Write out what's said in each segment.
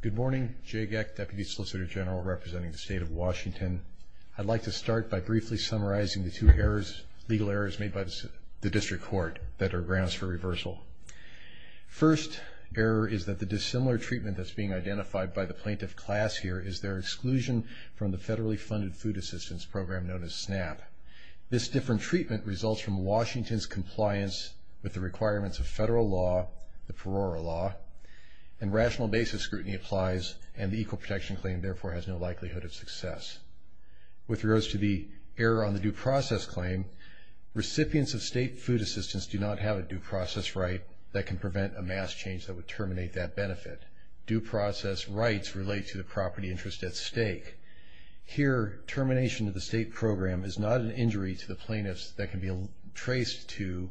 Good morning, Jay Geck, Deputy Solicitor General representing the State of Washington. I'd like to start by briefly summarizing the two errors, legal errors, made by the District Court that are grounds for reversal. First error is that the dissimilar treatment that's being identified by the plaintiff class here is their exclusion from the federally funded food assistance program known as SNAP. This different treatment results from Washington's compliance with the requirements of federal law, the perora law, and rational basis scrutiny applies and the equal protection claim therefore has no likelihood of success. With regards to the error on the due process claim, recipients of state food assistance do not have a due process right that can prevent a mass change that would terminate that benefit. Due process rights relate to the property interest at stake. Here, termination of the state program is not an injury to the plaintiffs that can be traced to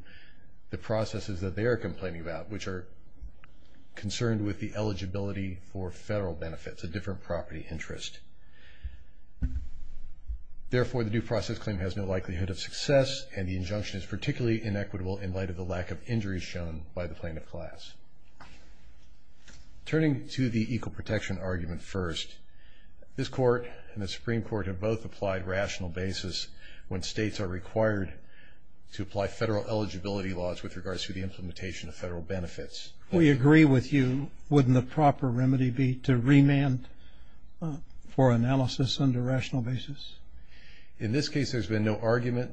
the processes that they are complaining about which are concerned with the eligibility for federal benefits, a different property interest. Therefore, the due process claim has no likelihood of success and the injunction is particularly inequitable in light of the lack of injuries shown by the plaintiff class. Turning to the equal protection argument first, this court and the Supreme Court have both applied rational basis when states are required to apply federal eligibility laws with regards to the implementation of federal benefits. We agree with you. Wouldn't the proper remedy be to remand for analysis under rational basis? In this case, there's been no argument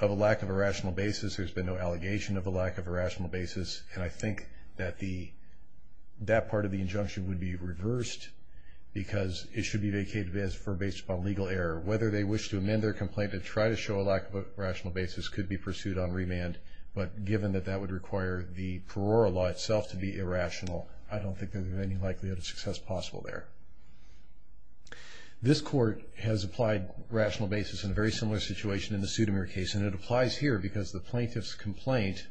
of a lack of a rational basis. There's been no allegation of a lack of a rational basis. And I think that that part of the injunction would be reversed because it should be vacated for based upon legal error. Whether they wish to amend their complaint to try to show a lack of a rational basis could be pursued on remand, but given that that would require the parole law itself to be irrational, I don't think there's any likelihood of success possible there. This court has applied rational basis in a very similar situation in the Sudimir case, and it applies here because the plaintiff's complaint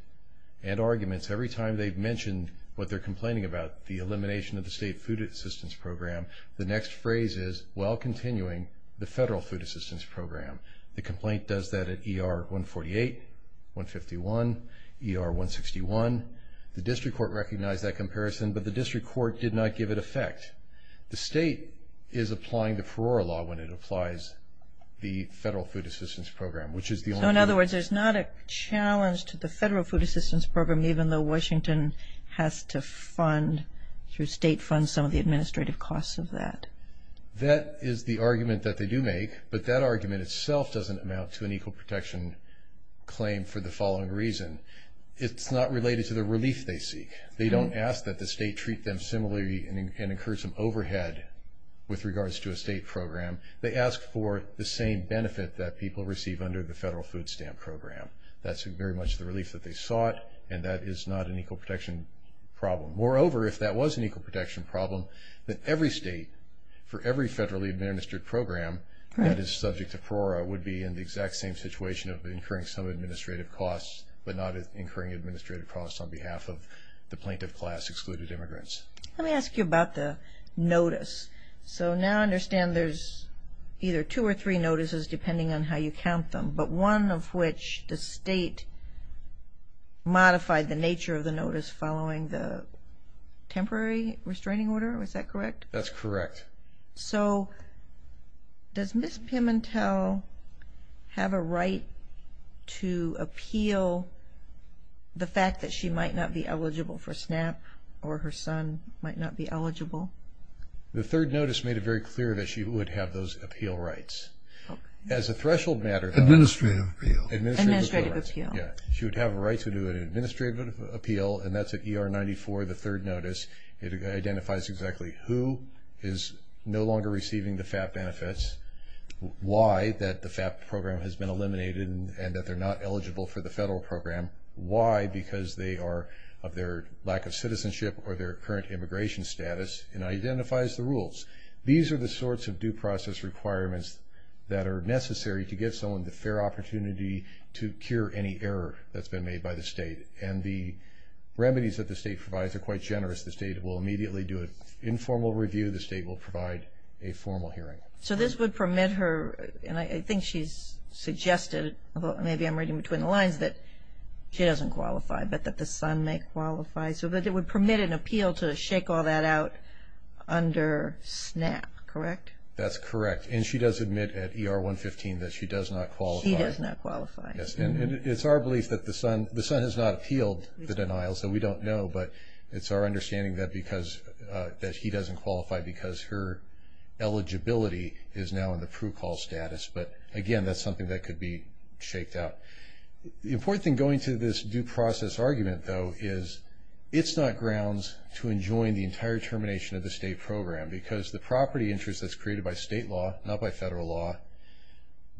and arguments, every time they've mentioned what they're complaining about, the elimination of the state food assistance program, the next phrase is, while continuing, the federal food assistance program. The complaint does that at ER 148, 151, ER 161. The district court recognized that comparison, but the district court did not give it effect. The state is applying the parole law when it applies the federal food assistance program, which is the only one. So in other words, there's not a challenge to the federal food assistance program, even though Washington has to fund, through state funds, some of the administrative costs of that. That is the argument that they do make, but that argument itself doesn't amount to an equal protection claim for the following reason. It's not related to the relief they seek. They don't ask that the state treat them similarly and incur some overhead with regards to a state program. They ask for the same benefit that people receive under the federal food stamp program. That's very much the relief that they sought, and that is not an equal protection problem. Moreover, if that was an equal protection problem, then every state for every federally administered program that is subject to PORRA would be in the exact same situation of incurring some administrative costs, but not incurring administrative costs on behalf of the plaintiff class excluded immigrants. Let me ask you about the notice. So now I understand there's either two or three notices, depending on how you count them, but one of which the state modified the nature of the notice following the temporary restraining order. Is that correct? That's correct. So does Ms. Pimentel have a right to appeal the fact that she might not be eligible for SNAP or her son might not be eligible? The third notice made it very clear that she would have those appeal rights. As a threshold matter, though. Administrative appeal. Administrative appeal. Yeah. She would have a right to do an administrative appeal, and that's at ER 94, the third notice. It identifies exactly who is no longer receiving the FAP benefits, why that the FAP program has been eliminated and that they're not eligible for the federal program, why, because they are of their lack of citizenship or their current immigration status, and identifies the rules. These are the sorts of due process requirements that are necessary to give someone the fair opportunity to cure any error that's been made by the state. And the remedies that the state provides are quite generous. The state will immediately do an informal review. The state will provide a formal hearing. So this would permit her, and I think she's suggested, maybe I'm reading between the lines, that she doesn't qualify, but that the son may qualify, so that it would permit an appeal to shake all that out under SNAP, correct? That's correct. And she does admit at ER 115 that she does not qualify. She does not qualify. Yes, and it's our belief that the son has not appealed the denial, so we don't know, but it's our understanding that he doesn't qualify because her eligibility is now in the procall status. But, again, that's something that could be shaked out. The important thing going to this due process argument, though, is it's not grounds to enjoin the entire termination of the state program, because the property interest that's created by state law, not by federal law,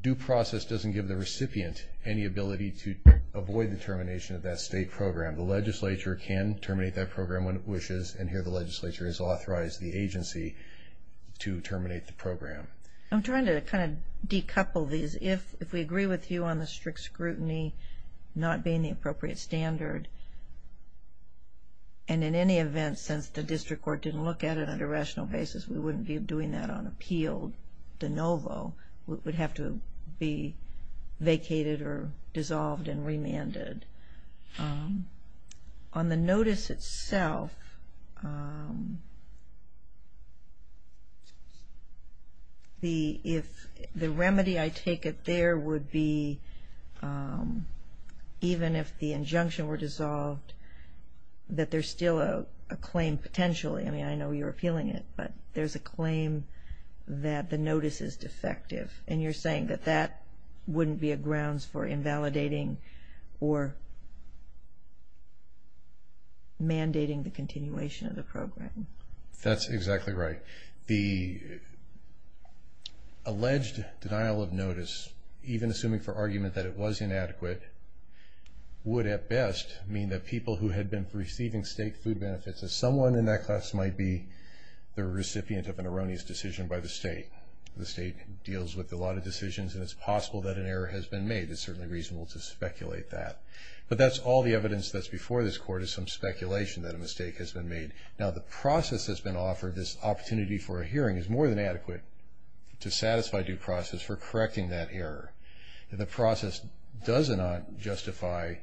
due process doesn't give the recipient any ability to avoid the termination of that state program. The legislature can terminate that program when it wishes, I'm trying to kind of decouple these. If we agree with you on the strict scrutiny not being the appropriate standard, and in any event, since the district court didn't look at it on a rational basis, we wouldn't be doing that on appeal de novo. It would have to be vacated or dissolved and remanded. On the notice itself, the remedy, I take it, there would be, even if the injunction were dissolved, that there's still a claim potentially. I mean, I know you're appealing it, but there's a claim that the notice is defective, and you're saying that that wouldn't be a grounds for invalidating or mandating the continuation of the program. That's exactly right. The alleged denial of notice, even assuming for argument that it was inadequate, would at best mean that people who had been receiving state food benefits, that someone in that class might be the recipient of an erroneous decision by the state. The state deals with a lot of decisions, and it's possible that an error has been made. It's certainly reasonable to speculate that. But that's all the evidence that's before this court is some speculation that a mistake has been made. Now, the process that's been offered, this opportunity for a hearing, is more than adequate to satisfy due process for correcting that error. The process does not justify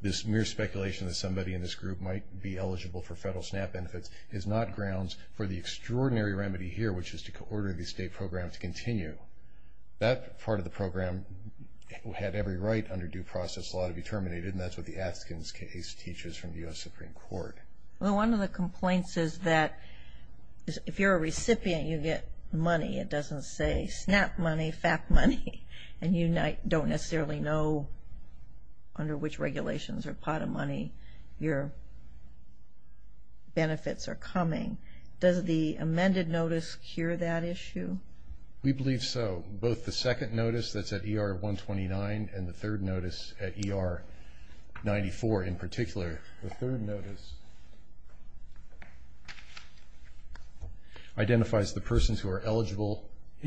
this mere speculation that somebody in this group might be eligible for federal SNAP benefits. It is not grounds for the extraordinary remedy here, which is to order the state program to continue. That part of the program had every right under due process law to be terminated, and that's what the Atkins case teaches from the U.S. Supreme Court. Well, one of the complaints is that if you're a recipient, you get money. It doesn't say SNAP money, FAP money, and you don't necessarily know under which regulations or pot of money your benefits are coming. Does the amended notice cure that issue? We believe so. Both the second notice that's at ER-129 and the third notice at ER-94 in particular. The third notice identifies the persons who are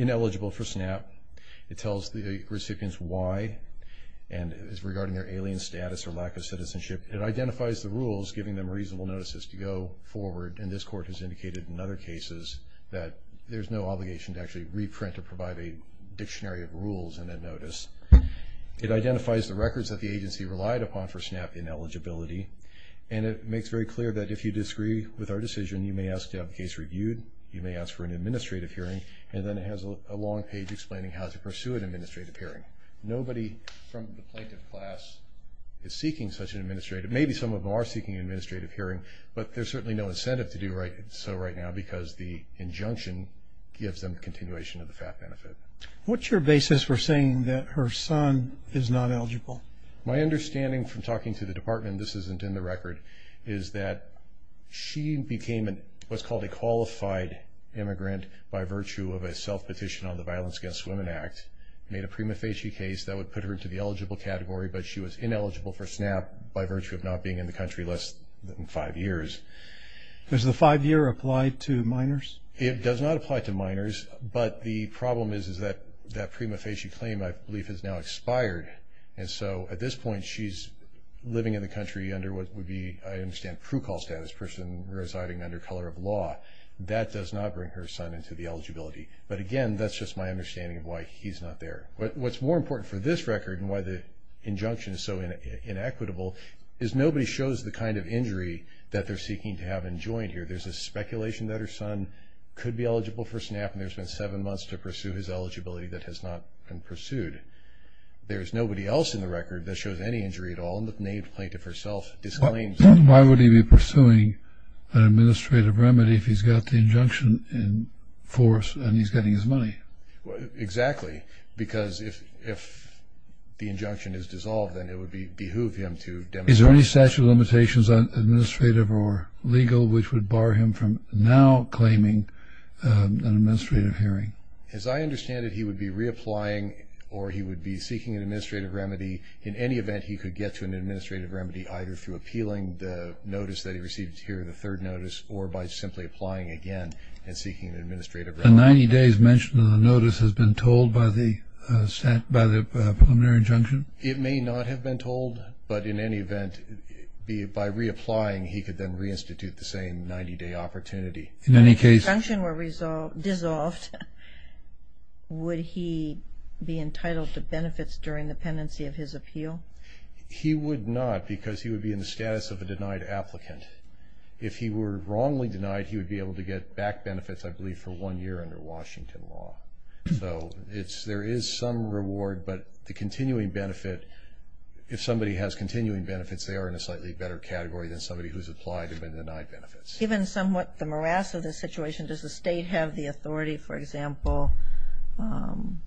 ineligible for SNAP. It tells the recipients why and is regarding their alien status or lack of citizenship. It identifies the rules, giving them reasonable notices to go forward, and this court has indicated in other cases that there's no obligation to actually reprint or provide a dictionary of rules in that notice. It identifies the records that the agency relied upon for SNAP ineligibility, and it makes very clear that if you disagree with our decision, you may ask to have the case reviewed, you may ask for an administrative hearing, and then it has a long page explaining how to pursue an administrative hearing. Nobody from the plaintiff class is seeking such an administrative, maybe some of them are seeking an administrative hearing, but there's certainly no incentive to do so right now because the injunction gives them continuation of the FAP benefit. What's your basis for saying that her son is not eligible? My understanding from talking to the department, this isn't in the record, is that she became what's called a qualified immigrant by virtue of a self-petition on the Violence Against Women Act, made a prima facie case that would put her into the eligible category, but she was ineligible for SNAP by virtue of not being in the country less than five years. Does the five-year apply to minors? It does not apply to minors, but the problem is that that prima facie claim, I believe, has now expired, and so at this point, she's living in the country under what would be, I understand, pro-call status, a person residing under color of law. That does not bring her son into the eligibility, but again, that's just my understanding of why he's not there. What's more important for this record and why the injunction is so inequitable is nobody shows the kind of injury that they're seeking to have enjoined here. There's a speculation that her son could be eligible for SNAP, and there's been seven months to pursue his eligibility that has not been pursued. There's nobody else in the record that shows any injury at all, and the plaintiff herself disclaims that. Why would he be pursuing an administrative remedy if he's got the injunction in force and he's getting his money? Exactly, because if the injunction is dissolved, then it would behoove him to demonstrate. Is there any statute of limitations on administrative or legal which would bar him from now claiming an administrative hearing? As I understand it, he would be reapplying or he would be seeking an administrative remedy. In any event, he could get to an administrative remedy either through appealing the notice that he received here, the third notice, or by simply applying again and seeking an administrative remedy. The 90 days mentioned in the notice has been told by the preliminary injunction? It may not have been told, but in any event, by reapplying, he could then reinstitute the same 90-day opportunity. If the injunction were dissolved, would he be entitled to benefits during the pendency of his appeal? He would not because he would be in the status of a denied applicant. If he were wrongly denied, he would be able to get back benefits, I believe, for one year under Washington law. So there is some reward, but the continuing benefit, if somebody has continuing benefits, they are in a slightly better category than somebody who's applied and been denied benefits. Given somewhat the morass of the situation, does the State have the authority, for example, on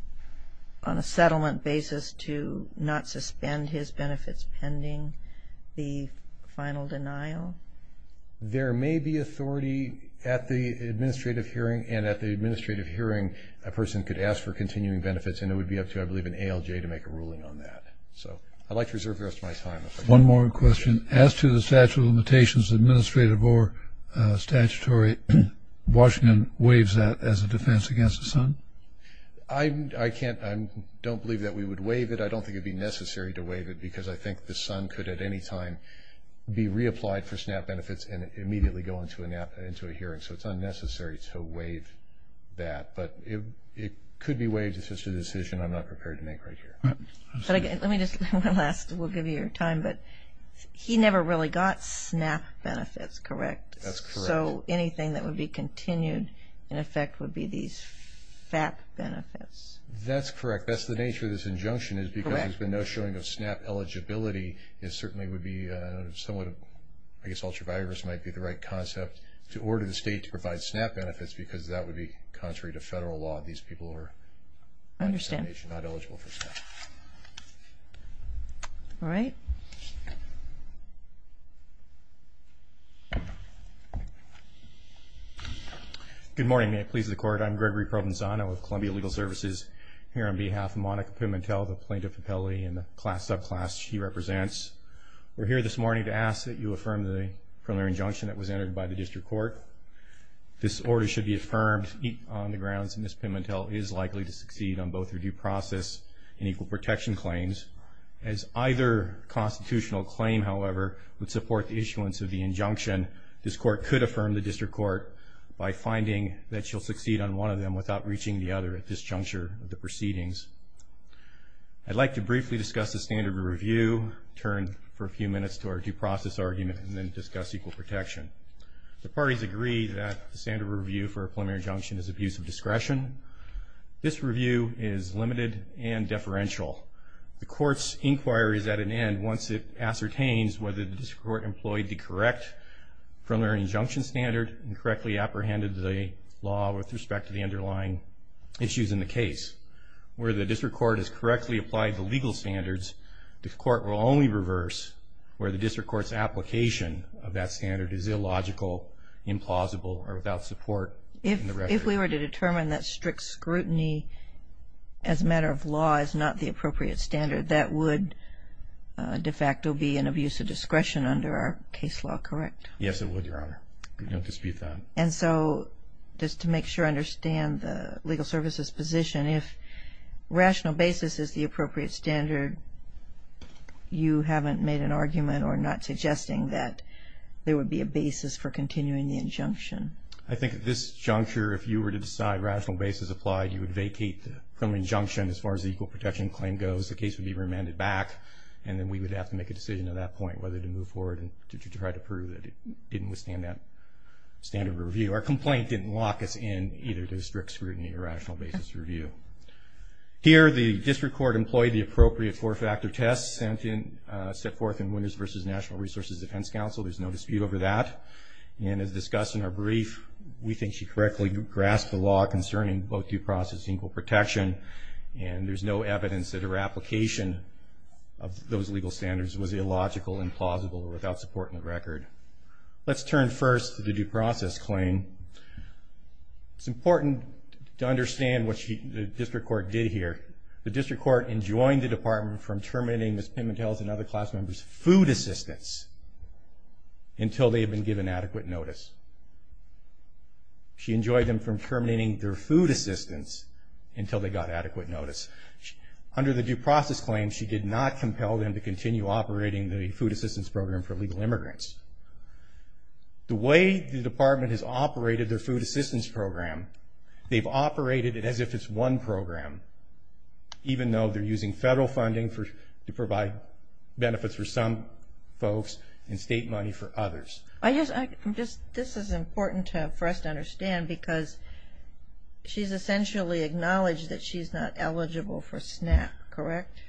a settlement basis to not suspend his benefits pending the final denial? There may be authority at the administrative hearing, and at the administrative hearing, a person could ask for continuing benefits, and it would be up to, I believe, an ALJ to make a ruling on that. So I'd like to reserve the rest of my time. One more question. As to the statute of limitations, administrative or statutory, Washington waives that as a defense against the sun? I don't believe that we would waive it. I don't think it would be necessary to waive it because I think the sun could at any time be reapplied for SNAP benefits and immediately go into a hearing, so it's unnecessary to waive that. But it could be waived. It's just a decision I'm not prepared to make right here. Let me just, one last, we'll give you your time, but he never really got SNAP benefits, correct? That's correct. So anything that would be continued, in effect, would be these FAP benefits? That's correct. That's the nature of this injunction is because there's been no showing of SNAP eligibility, it certainly would be somewhat, I guess, ultra-virus might be the right concept, to order the State to provide SNAP benefits because that would be contrary to federal law. These people are not eligible for SNAP. All right. Good morning. May it please the Court. I'm Gregory Provenzano with Columbia Legal Services here on behalf of Monica Pimentel, the plaintiff appellee and the subclass she represents. We're here this morning to ask that you affirm the preliminary injunction that was entered by the district court. This order should be affirmed on the grounds that Ms. Pimentel is likely to succeed on both her due process and equal protection claims. As either constitutional claim, however, would support the issuance of the injunction, this court could affirm the district court by finding that she'll succeed on one of them without reaching the other at this juncture of the proceedings. I'd like to briefly discuss the standard review, turn for a few minutes to our due process argument, and then discuss equal protection. The parties agree that the standard review for a preliminary injunction is abuse of discretion. This review is limited and deferential. The court's inquiry is at an end once it ascertains whether the district court employed the correct preliminary injunction standard and correctly apprehended the law with respect to the underlying issues in the case. Where the district court has correctly applied the legal standards, the court will only reverse where the district court's application of that standard is illogical, implausible, or without support. If we were to determine that strict scrutiny as a matter of law is not the appropriate standard, that would de facto be an abuse of discretion under our case law, correct? Yes, it would, Your Honor. We don't dispute that. And so, just to make sure I understand the legal services position, if rational basis is the appropriate standard, you haven't made an argument or not suggesting that there would be a basis for continuing the injunction? I think at this juncture, if you were to decide rational basis applied, you would vacate the preliminary injunction as far as the equal protection claim goes. The case would be remanded back, and then we would have to make a decision at that point whether to move forward and to try to prove that it didn't withstand that standard review. Our complaint didn't lock us in either to strict scrutiny or rational basis review. Here, the district court employed the appropriate four-factor test set forth in Winners v. National Resources Defense Council. There's no dispute over that. And as discussed in our brief, we think she correctly grasped the law concerning both due process and equal protection, and there's no evidence that her application of those legal standards was illogical, implausible, or without support in the record. Let's turn first to the due process claim. It's important to understand what the district court did here. The district court enjoined the department from terminating Ms. Pimentel's and other class members' food assistance until they had been given adequate notice. She enjoined them from terminating their food assistance until they got adequate notice. Under the due process claim, she did not compel them to continue operating the food assistance program for illegal immigrants. The way the department has operated their food assistance program, they've operated it as if it's one program, even though they're using federal funding to provide benefits for some folks and state money for others. This is important for us to understand because she's essentially acknowledged that she's not eligible for SNAP, correct?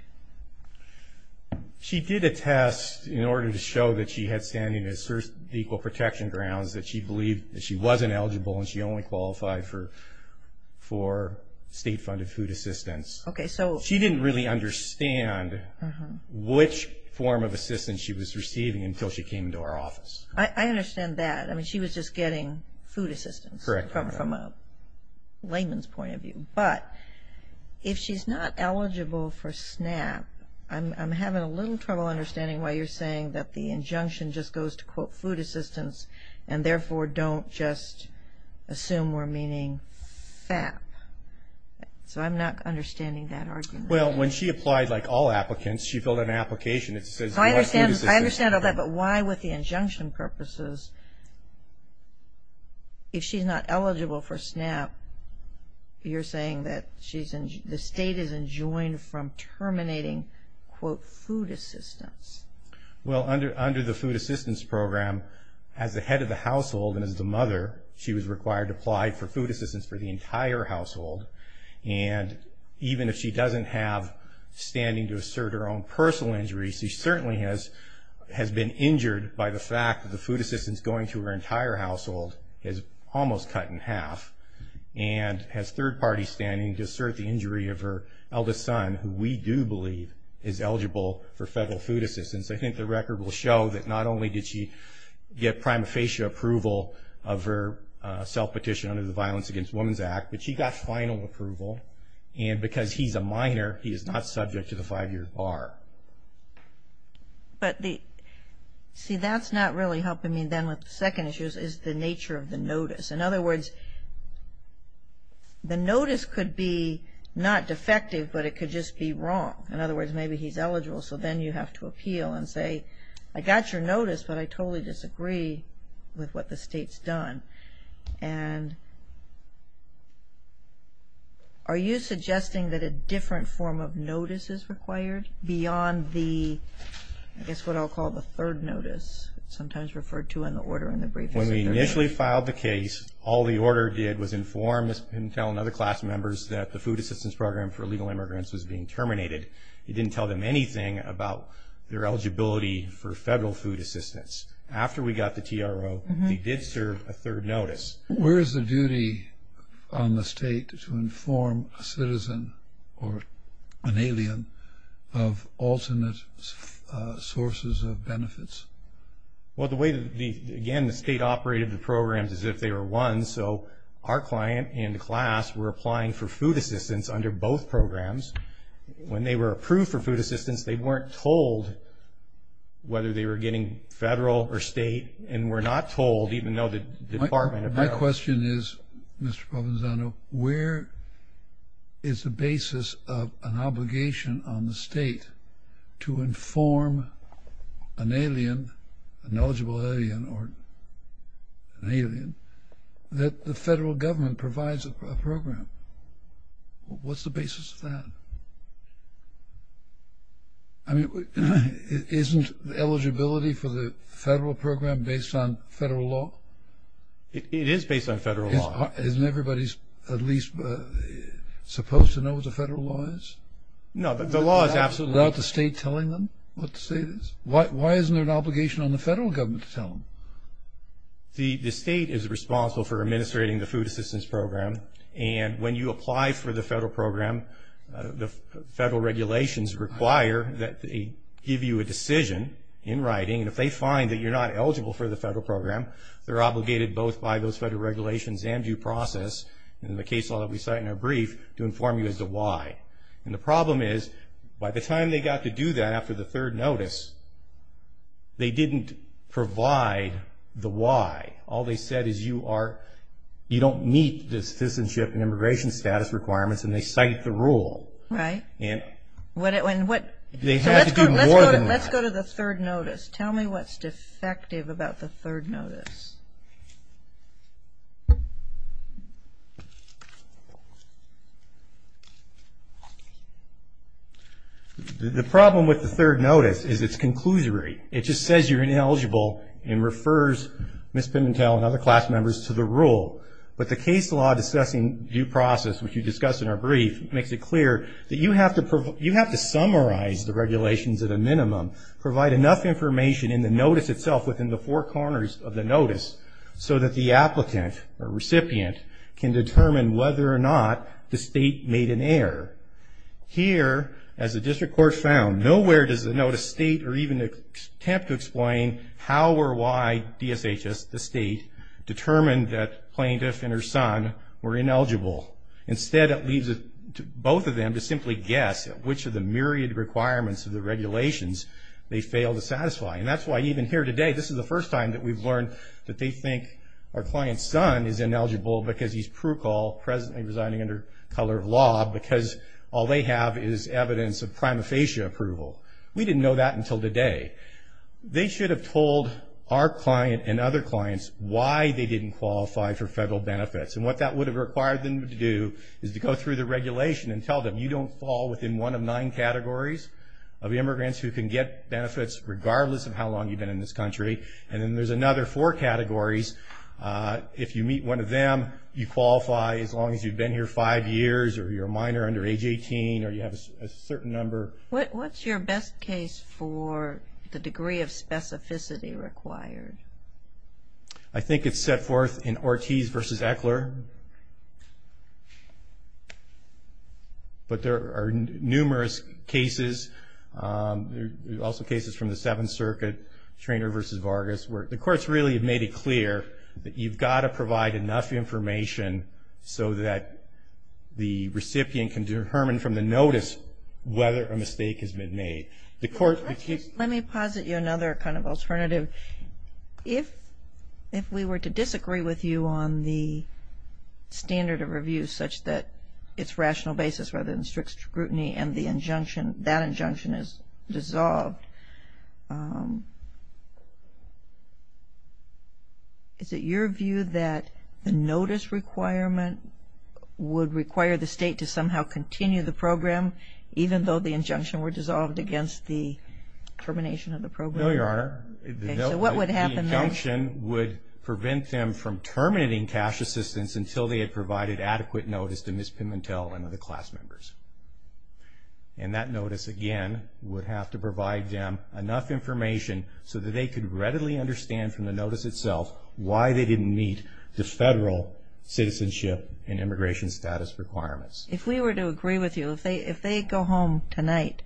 She did a test in order to show that she had standing at the equal protection grounds, that she believed that she wasn't eligible and she only qualified for state-funded food assistance. She didn't really understand which form of assistance she was receiving until she came into our office. I understand that. I mean, she was just getting food assistance from a layman's point of view. Correct. But if she's not eligible for SNAP, I'm having a little trouble understanding why you're saying that the injunction just goes to quote food assistance and therefore don't just assume we're meaning FAP. So I'm not understanding that argument. Well, when she applied like all applicants, she filled out an application that says what food assistance. I understand all that, but why with the injunction purposes, if she's not eligible for SNAP, you're saying that the state is enjoined from terminating quote food assistance. Well, under the food assistance program, as the head of the household and as the mother, she was required to apply for food assistance for the entire household. And even if she doesn't have standing to assert her own personal injuries, she certainly has been injured by the fact that the food assistance going through her entire household is almost cut in half and has third party standing to assert the injury of her eldest son, who we do believe is eligible for federal food assistance. I think the record will show that not only did she get prima facie approval of her self-petition under the Violence Against Women's Act, but she got final approval. And because he's a minor, he is not subject to the five-year bar. But see, that's not really helping me then with the second issue, is the nature of the notice. In other words, the notice could be not defective, but it could just be wrong. In other words, maybe he's eligible, so then you have to appeal and say, I got your notice, but I totally disagree with what the state's done. And are you suggesting that a different form of notice is required beyond the, I guess what I'll call the third notice, sometimes referred to in the order in the brief. When we initially filed the case, all the order did was inform and tell other class members that the food assistance program for illegal immigrants was being terminated. It didn't tell them anything about their eligibility for federal food assistance. After we got the TRO, they did serve a third notice. Where is the duty on the state to inform a citizen or an alien of alternate sources of benefits? Well, again, the state operated the programs as if they were one, so our client and the class were applying for food assistance under both programs. When they were approved for food assistance, they weren't told whether they were getting federal or state, and were not told even though the Department of Health. My question is, Mr. Provenzano, where is the basis of an obligation on the state to inform an alien, an eligible alien or an alien, that the federal government provides a program? What's the basis of that? I mean, isn't eligibility for the federal program based on federal law? It is based on federal law. Isn't everybody at least supposed to know what the federal law is? No, the law is absolutely... Without the state telling them what the state is? Why isn't there an obligation on the federal government to tell them? The state is responsible for administrating the food assistance program, and when you apply for the federal program, the federal regulations require that they give you a decision in writing, and if they find that you're not eligible for the federal program, they're obligated both by those federal regulations and due process, and in the case law that we cite in our brief, to inform you as to why. And the problem is, by the time they got to do that after the third notice, they didn't provide the why. All they said is you don't meet the citizenship and immigration status requirements, and they cite the rule. Right. They have to do more than that. Let's go to the third notice. Tell me what's defective about the third notice. The problem with the third notice is it's conclusory. It just says you're ineligible and refers Ms. Pimentel and other class members to the rule. But the case law discussing due process, which we discussed in our brief, makes it clear that you have to summarize the regulations at a minimum, provide enough information in the notice itself within the four corners of the notice so that the applicant or recipient can determine whether or not the state made an error. Here, as the district court found, nowhere does the notice state or even attempt to explain how or why DSHS, the state, determined that plaintiff and her son were ineligible. Instead, it leaves both of them to simply guess at which of the myriad requirements of the regulations they failed to satisfy. And that's why even here today, this is the first time that we've learned that they think our client's son is ineligible because he's prurical, presently residing under color of law, because all they have is evidence of prima facie approval. We didn't know that until today. They should have told our client and other clients why they didn't qualify for federal benefits. And what that would have required them to do is to go through the regulation and tell them you don't fall within one of nine categories of immigrants who can get benefits regardless of how long you've been in this country. And then there's another four categories. If you meet one of them, you qualify as long as you've been here five years or you're a minor under age 18 or you have a certain number. What's your best case for the degree of specificity required? I think it's set forth in Ortiz v. Ekler. But there are numerous cases. There are also cases from the Seventh Circuit, Treanor v. Vargas, where the courts really have made it clear that you've got to provide enough information so that the recipient can determine from the notice whether a mistake has been made. Let me posit you another kind of alternative. If we were to disagree with you on the standard of review such that it's rational basis rather than strict scrutiny and the injunction, that injunction is dissolved, is it your view that the notice requirement would require the state to somehow continue the program even though the injunction were dissolved against the termination of the program? No, Your Honor. So what would happen there? The injunction would prevent them from terminating cash assistance until they had provided adequate notice to Ms. Pimentel and other class members. And that notice, again, would have to provide them enough information so that they could readily understand from the notice itself why they didn't meet the federal citizenship and immigration status requirements. If we were to agree with you, if they go home tonight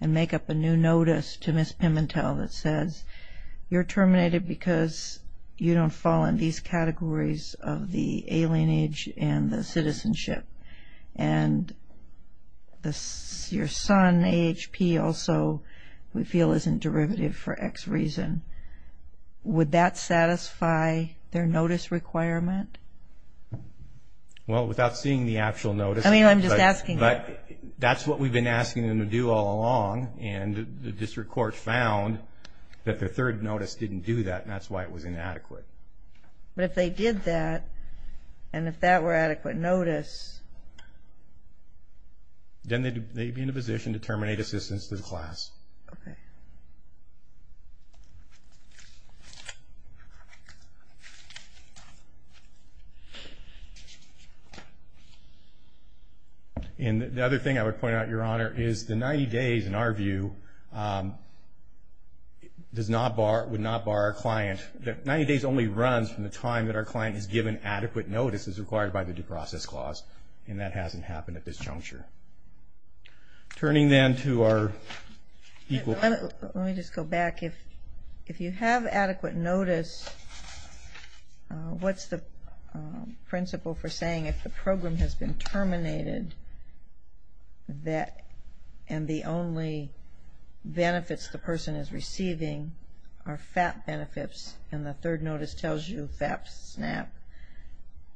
and make up a new notice to Ms. Pimentel that says you're terminated because you don't fall in these categories of the alien age and the citizenship and your son, AHP, also we feel isn't derivative for X reason, would that satisfy their notice requirement? Well, without seeing the actual notice. I mean, I'm just asking. But that's what we've been asking them to do all along, and the district court found that their third notice didn't do that, and that's why it was inadequate. But if they did that, and if that were adequate notice. Then they'd be in a position to terminate assistance to the class. Okay. And the other thing I would point out, Your Honor, is the 90 days, in our view, would not bar a client. 90 days only runs from the time that our client is given adequate notice as required by the due process clause, and that hasn't happened at this juncture. Turning then to our equal. Let me just go back. If you have adequate notice, what's the principle for saying if the program has been terminated and the only benefits the person is receiving are FAP benefits and the third notice tells you FAP SNAP,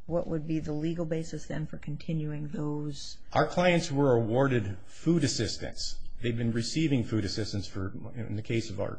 what would be the legal basis then for continuing those? Our clients were awarded food assistance. They've been receiving food assistance, in the case of our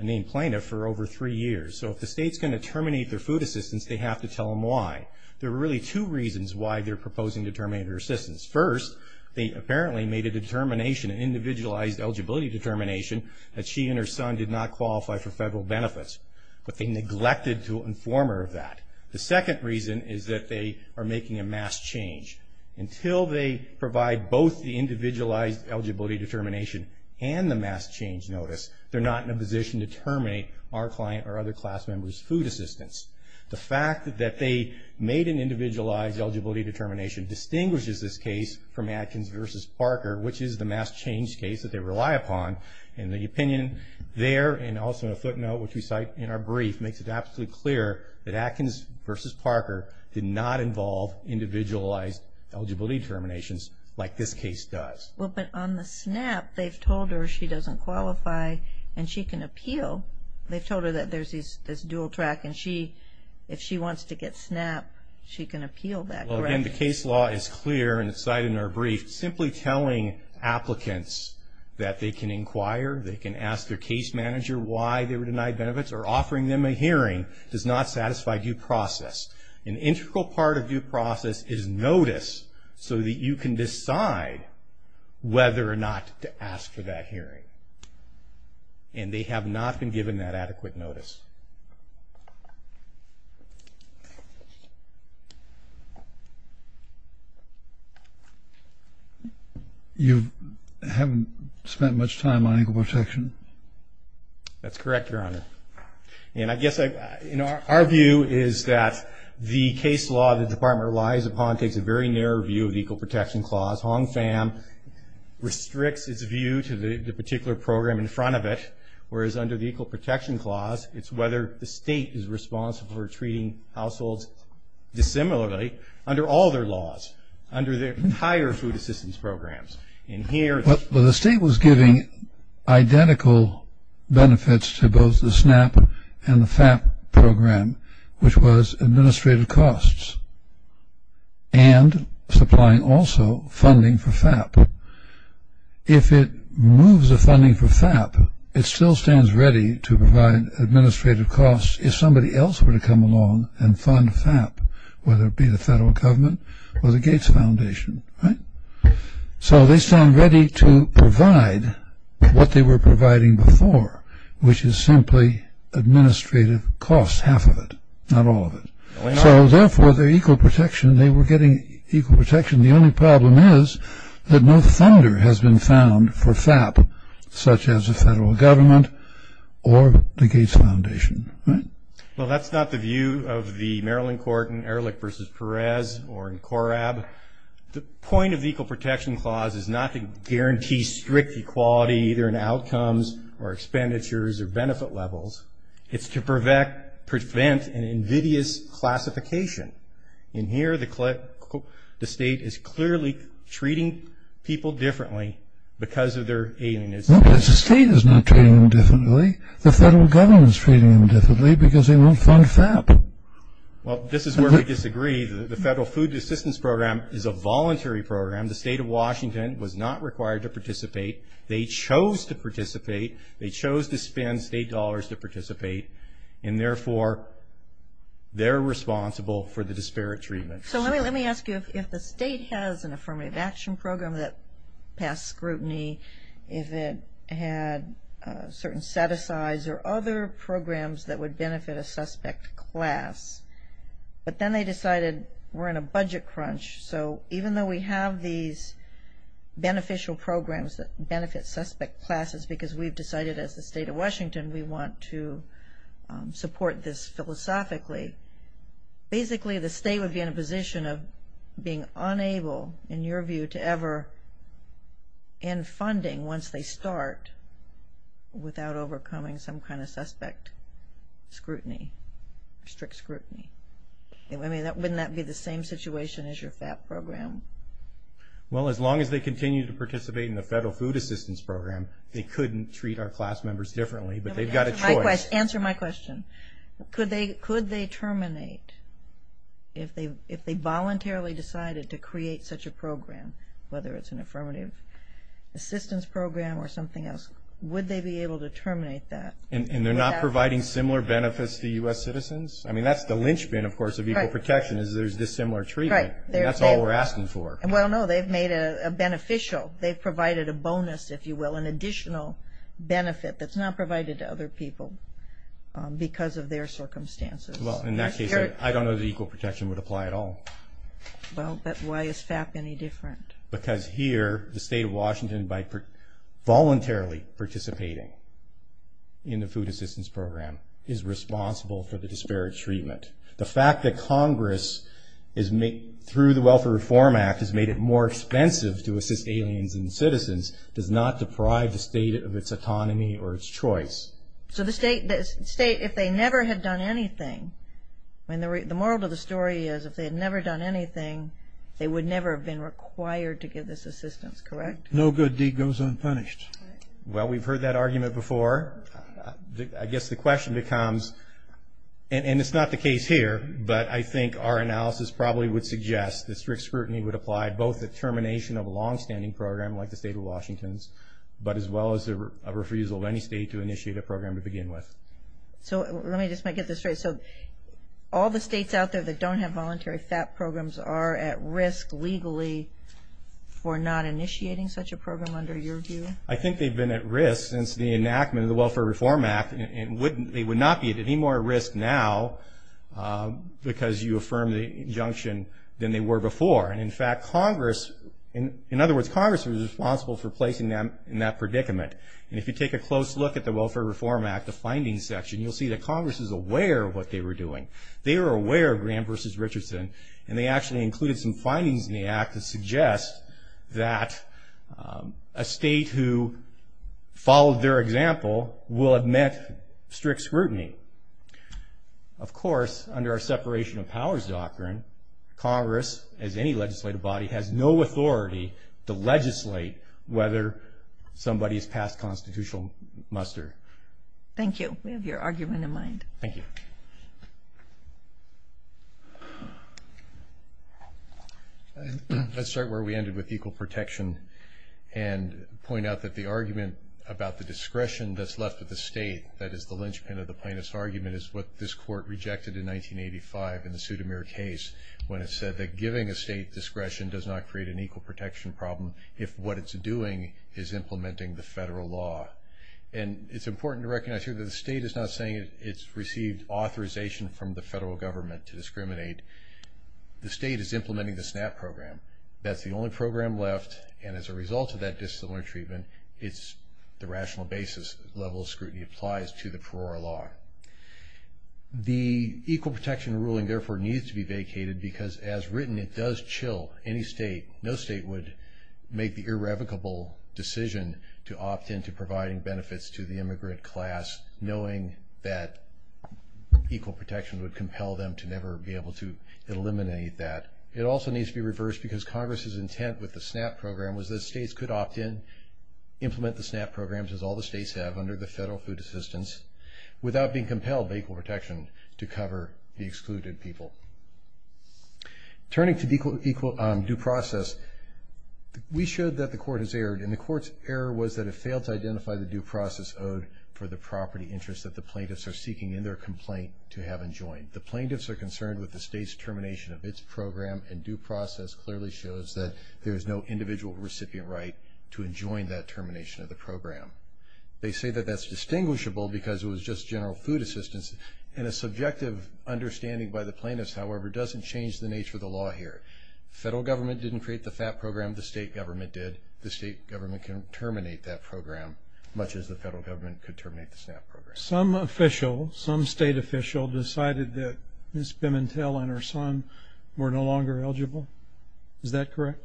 named plaintiff, for over three years. So if the state's going to terminate their food assistance, they have to tell them why. There are really two reasons why they're proposing to terminate their assistance. First, they apparently made a determination, an individualized eligibility determination, that she and her son did not qualify for federal benefits. But they neglected to inform her of that. The second reason is that they are making a mass change. Until they provide both the individualized eligibility determination and the mass change notice, they're not in a position to terminate our client or other class member's food assistance. The fact that they made an individualized eligibility determination distinguishes this case from Atkins v. Parker, which is the mass change case that they rely upon. And the opinion there and also a footnote, which we cite in our brief, makes it absolutely clear that Atkins v. Parker did not involve individualized eligibility determinations like this case does. Well, but on the SNAP, they've told her she doesn't qualify and she can appeal. They've told her that there's this dual track and if she wants to get SNAP, she can appeal that, correct? Well, again, the case law is clear and it's cited in our brief. Simply telling applicants that they can inquire, they can ask their case manager why they were denied benefits or offering them a hearing does not satisfy due process. An integral part of due process is notice so that you can decide whether or not to ask for that hearing. And they have not been given that adequate notice. You haven't spent much time on equal protection? That's correct, Your Honor. And I guess, you know, our view is that the case law the Department relies upon takes a very narrow view of the equal protection clause. HONFAM restricts its view to the particular program in front of it, whereas under the equal protection clause, it's whether the state is responsible for treating households dissimilarly under all their laws, under their higher food assistance programs. Well, the state was giving identical benefits to both the SNAP and the FAP program, which was administrative costs and supplying also funding for FAP. If it moves the funding for FAP, it still stands ready to provide administrative costs if somebody else were to come along and fund FAP, whether it be the federal government or the Gates Foundation, right? So they stand ready to provide what they were providing before, which is simply administrative costs, half of it, not all of it. So therefore, their equal protection, they were getting equal protection. The only problem is that no funder has been found for FAP, such as the federal government or the Gates Foundation, right? Well, that's not the view of the Maryland court in Ehrlich v. Perez or in Corab. The point of the equal protection clause is not to guarantee strict equality, either in outcomes or expenditures or benefit levels. It's to prevent an invidious classification. In here, the state is clearly treating people differently because of their alienism. No, the state is not treating them differently. The federal government is treating them differently because they won't fund FAP. Well, this is where we disagree. The federal food assistance program is a voluntary program. The state of Washington was not required to participate. They chose to participate. They chose to spend state dollars to participate, and therefore they're responsible for the disparate treatment. So let me ask you, if the state has an affirmative action program that passed scrutiny, if it had certain set-asides or other programs that would benefit a suspect class, but then they decided we're in a budget crunch, so even though we have these beneficial programs that benefit suspect classes because we've decided as the state of Washington we want to support this philosophically, basically the state would be in a position of being unable, in your view, to ever end funding once they start without overcoming some kind of suspect scrutiny, strict scrutiny. Wouldn't that be the same situation as your FAP program? Well, as long as they continue to participate in the federal food assistance program, they couldn't treat our class members differently, but they've got a choice. Answer my question. Could they terminate, if they voluntarily decided to create such a program, whether it's an affirmative assistance program or something else, would they be able to terminate that? And they're not providing similar benefits to U.S. citizens? I mean, that's the linchpin, of course, of equal protection is there's dissimilar treatment. That's all we're asking for. Well, no, they've made a beneficial, they've provided a bonus, if you will, an additional benefit that's not provided to other people because of their circumstances. Well, in that case, I don't know that equal protection would apply at all. Well, but why is FAP any different? Because here the state of Washington, by voluntarily participating in the food assistance program, is responsible for the disparate treatment. The fact that Congress, through the Welfare Reform Act, has made it more expensive to assist aliens and citizens does not deprive the state of its autonomy or its choice. So the state, if they never had done anything, the moral of the story is if they had never done anything, they would never have been required to give this assistance, correct? No good deed goes unpunished. Well, we've heard that argument before. I guess the question becomes, and it's not the case here, but I think our analysis probably would suggest that strict scrutiny would apply, both the termination of a longstanding program like the state of Washington's, but as well as a refusal of any state to initiate a program to begin with. So let me just get this straight. So all the states out there that don't have voluntary FAP programs are at risk legally for not initiating such a program under your view? I think they've been at risk since the enactment of the Welfare Reform Act. And they would not be at any more risk now because you affirm the injunction than they were before. And, in fact, Congress, in other words, Congress was responsible for placing them in that predicament. And if you take a close look at the Welfare Reform Act, the findings section, you'll see that Congress is aware of what they were doing. They were aware of Graham v. Richardson, and they actually included some findings in the act that suggest that a state who followed their example will admit strict scrutiny. Of course, under our separation of powers doctrine, Congress, as any legislative body, has no authority to legislate whether somebody has passed constitutional muster. Thank you. We have your argument in mind. Thank you. Let's start where we ended with equal protection and point out that the argument about the discretion that's left to the state, that is the linchpin of the plaintiff's argument, is what this court rejected in 1985 in the Sudamir case when it said that giving a state discretion does not create an equal protection problem if what it's doing is implementing the federal law. And it's important to recognize here that the state is not saying it's received authorization from the federal government to discriminate. The state is implementing the SNAP program. That's the only program left, and as a result of that dissimilar treatment, it's the rational basis level of scrutiny applies to the Perora law. The equal protection ruling, therefore, needs to be vacated because, as written, it does chill. No state would make the irrevocable decision to opt into providing benefits to the immigrant class knowing that equal protection would compel them to never be able to eliminate that. It also needs to be reversed because Congress's intent with the SNAP program was that states could opt in, implement the SNAP programs, as all the states have, under the federal food assistance, without being compelled by equal protection to cover the excluded people. Turning to due process, we showed that the court has erred, and the court's error was that it failed to identify the due process owed for the property interest that the plaintiffs are seeking in their complaint to have enjoined. The plaintiffs are concerned with the state's termination of its program, and due process clearly shows that there is no individual recipient right to enjoin that termination of the program. They say that that's distinguishable because it was just general food assistance, and a subjective understanding by the plaintiffs, however, doesn't change the nature of the law here. The federal government didn't create the FAP program. The state government did. The state government can terminate that program, much as the federal government could terminate the SNAP program. Some official, some state official, decided that Ms. Bimentel and her son were no longer eligible. Is that correct?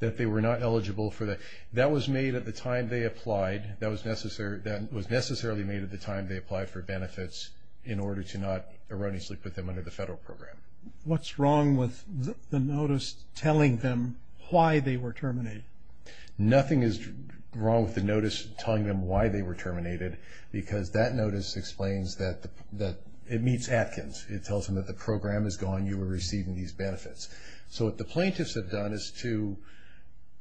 That they were not eligible for that. That was made at the time they applied. That was necessarily made at the time they applied for benefits in order to not erroneously put them under the federal program. What's wrong with the notice telling them why they were terminated? Nothing is wrong with the notice telling them why they were terminated because that notice explains that it meets Atkins. It tells them that the program is gone. You were receiving these benefits. So what the plaintiffs have done is to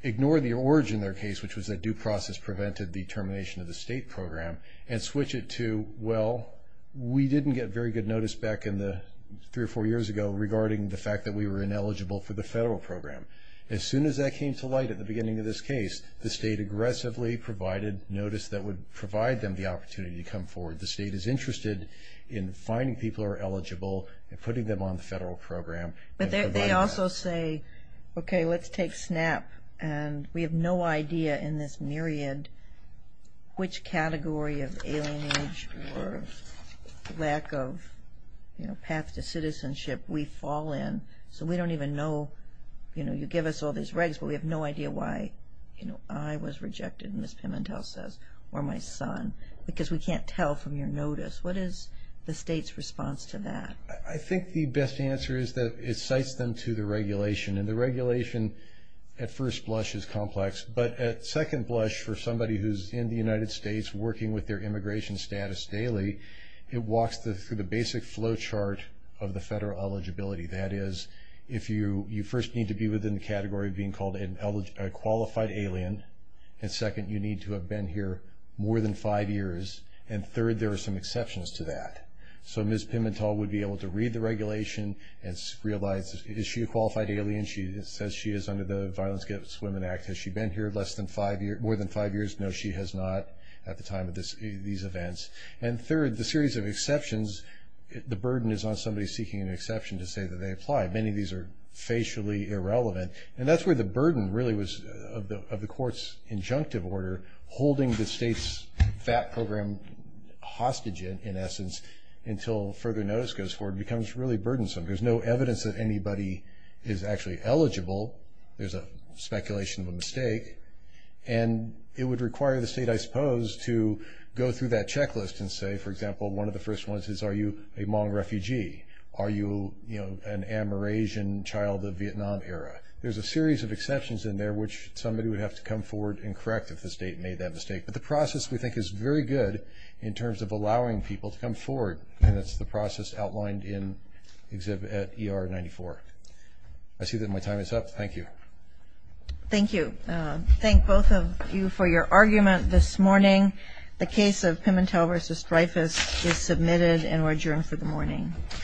ignore the origin of their case, which was that due process prevented the termination of the state program, and switch it to, well, we didn't get very good notice back three or four years ago regarding the fact that we were ineligible for the federal program. As soon as that came to light at the beginning of this case, the state aggressively provided notice that would provide them the opportunity to come forward. The state is interested in finding people who are eligible and putting them on the federal program. But they also say, okay, let's take SNAP, and we have no idea in this myriad which category of alienage or lack of path to citizenship we fall in. So we don't even know. You give us all these regs, but we have no idea why I was rejected, as Ms. Pimentel says, or my son, because we can't tell from your notice. What is the state's response to that? I think the best answer is that it cites them to the regulation. And the regulation at first blush is complex, but at second blush for somebody who's in the United States working with their immigration status daily, it walks through the basic flow chart of the federal eligibility. That is, if you first need to be within the category of being called a qualified alien, and second, you need to have been here more than five years, and third, there are some exceptions to that. So Ms. Pimentel would be able to read the regulation and realize is she a qualified alien? She says she is under the Violence Against Women Act. Has she been here more than five years? No, she has not at the time of these events. And third, the series of exceptions, the burden is on somebody seeking an exception to say that they apply. Many of these are facially irrelevant. And that's where the burden really was of the court's injunctive order, holding the state's FAT program hostage, in essence, until further notice goes forward becomes really burdensome. There's no evidence that anybody is actually eligible. There's a speculation of a mistake. And it would require the state, I suppose, to go through that checklist and say, for example, one of the first ones is are you a Hmong refugee? Are you an Amerasian child of Vietnam era? There's a series of exceptions in there which somebody would have to come forward and correct if the state made that mistake. But the process, we think, is very good in terms of allowing people to come forward, and it's the process outlined in Exhibit ER-94. I see that my time is up. Thank you. Thank you. Thank both of you for your argument this morning. The case of Pimentel v. Dreyfus is submitted and adjourned for the morning.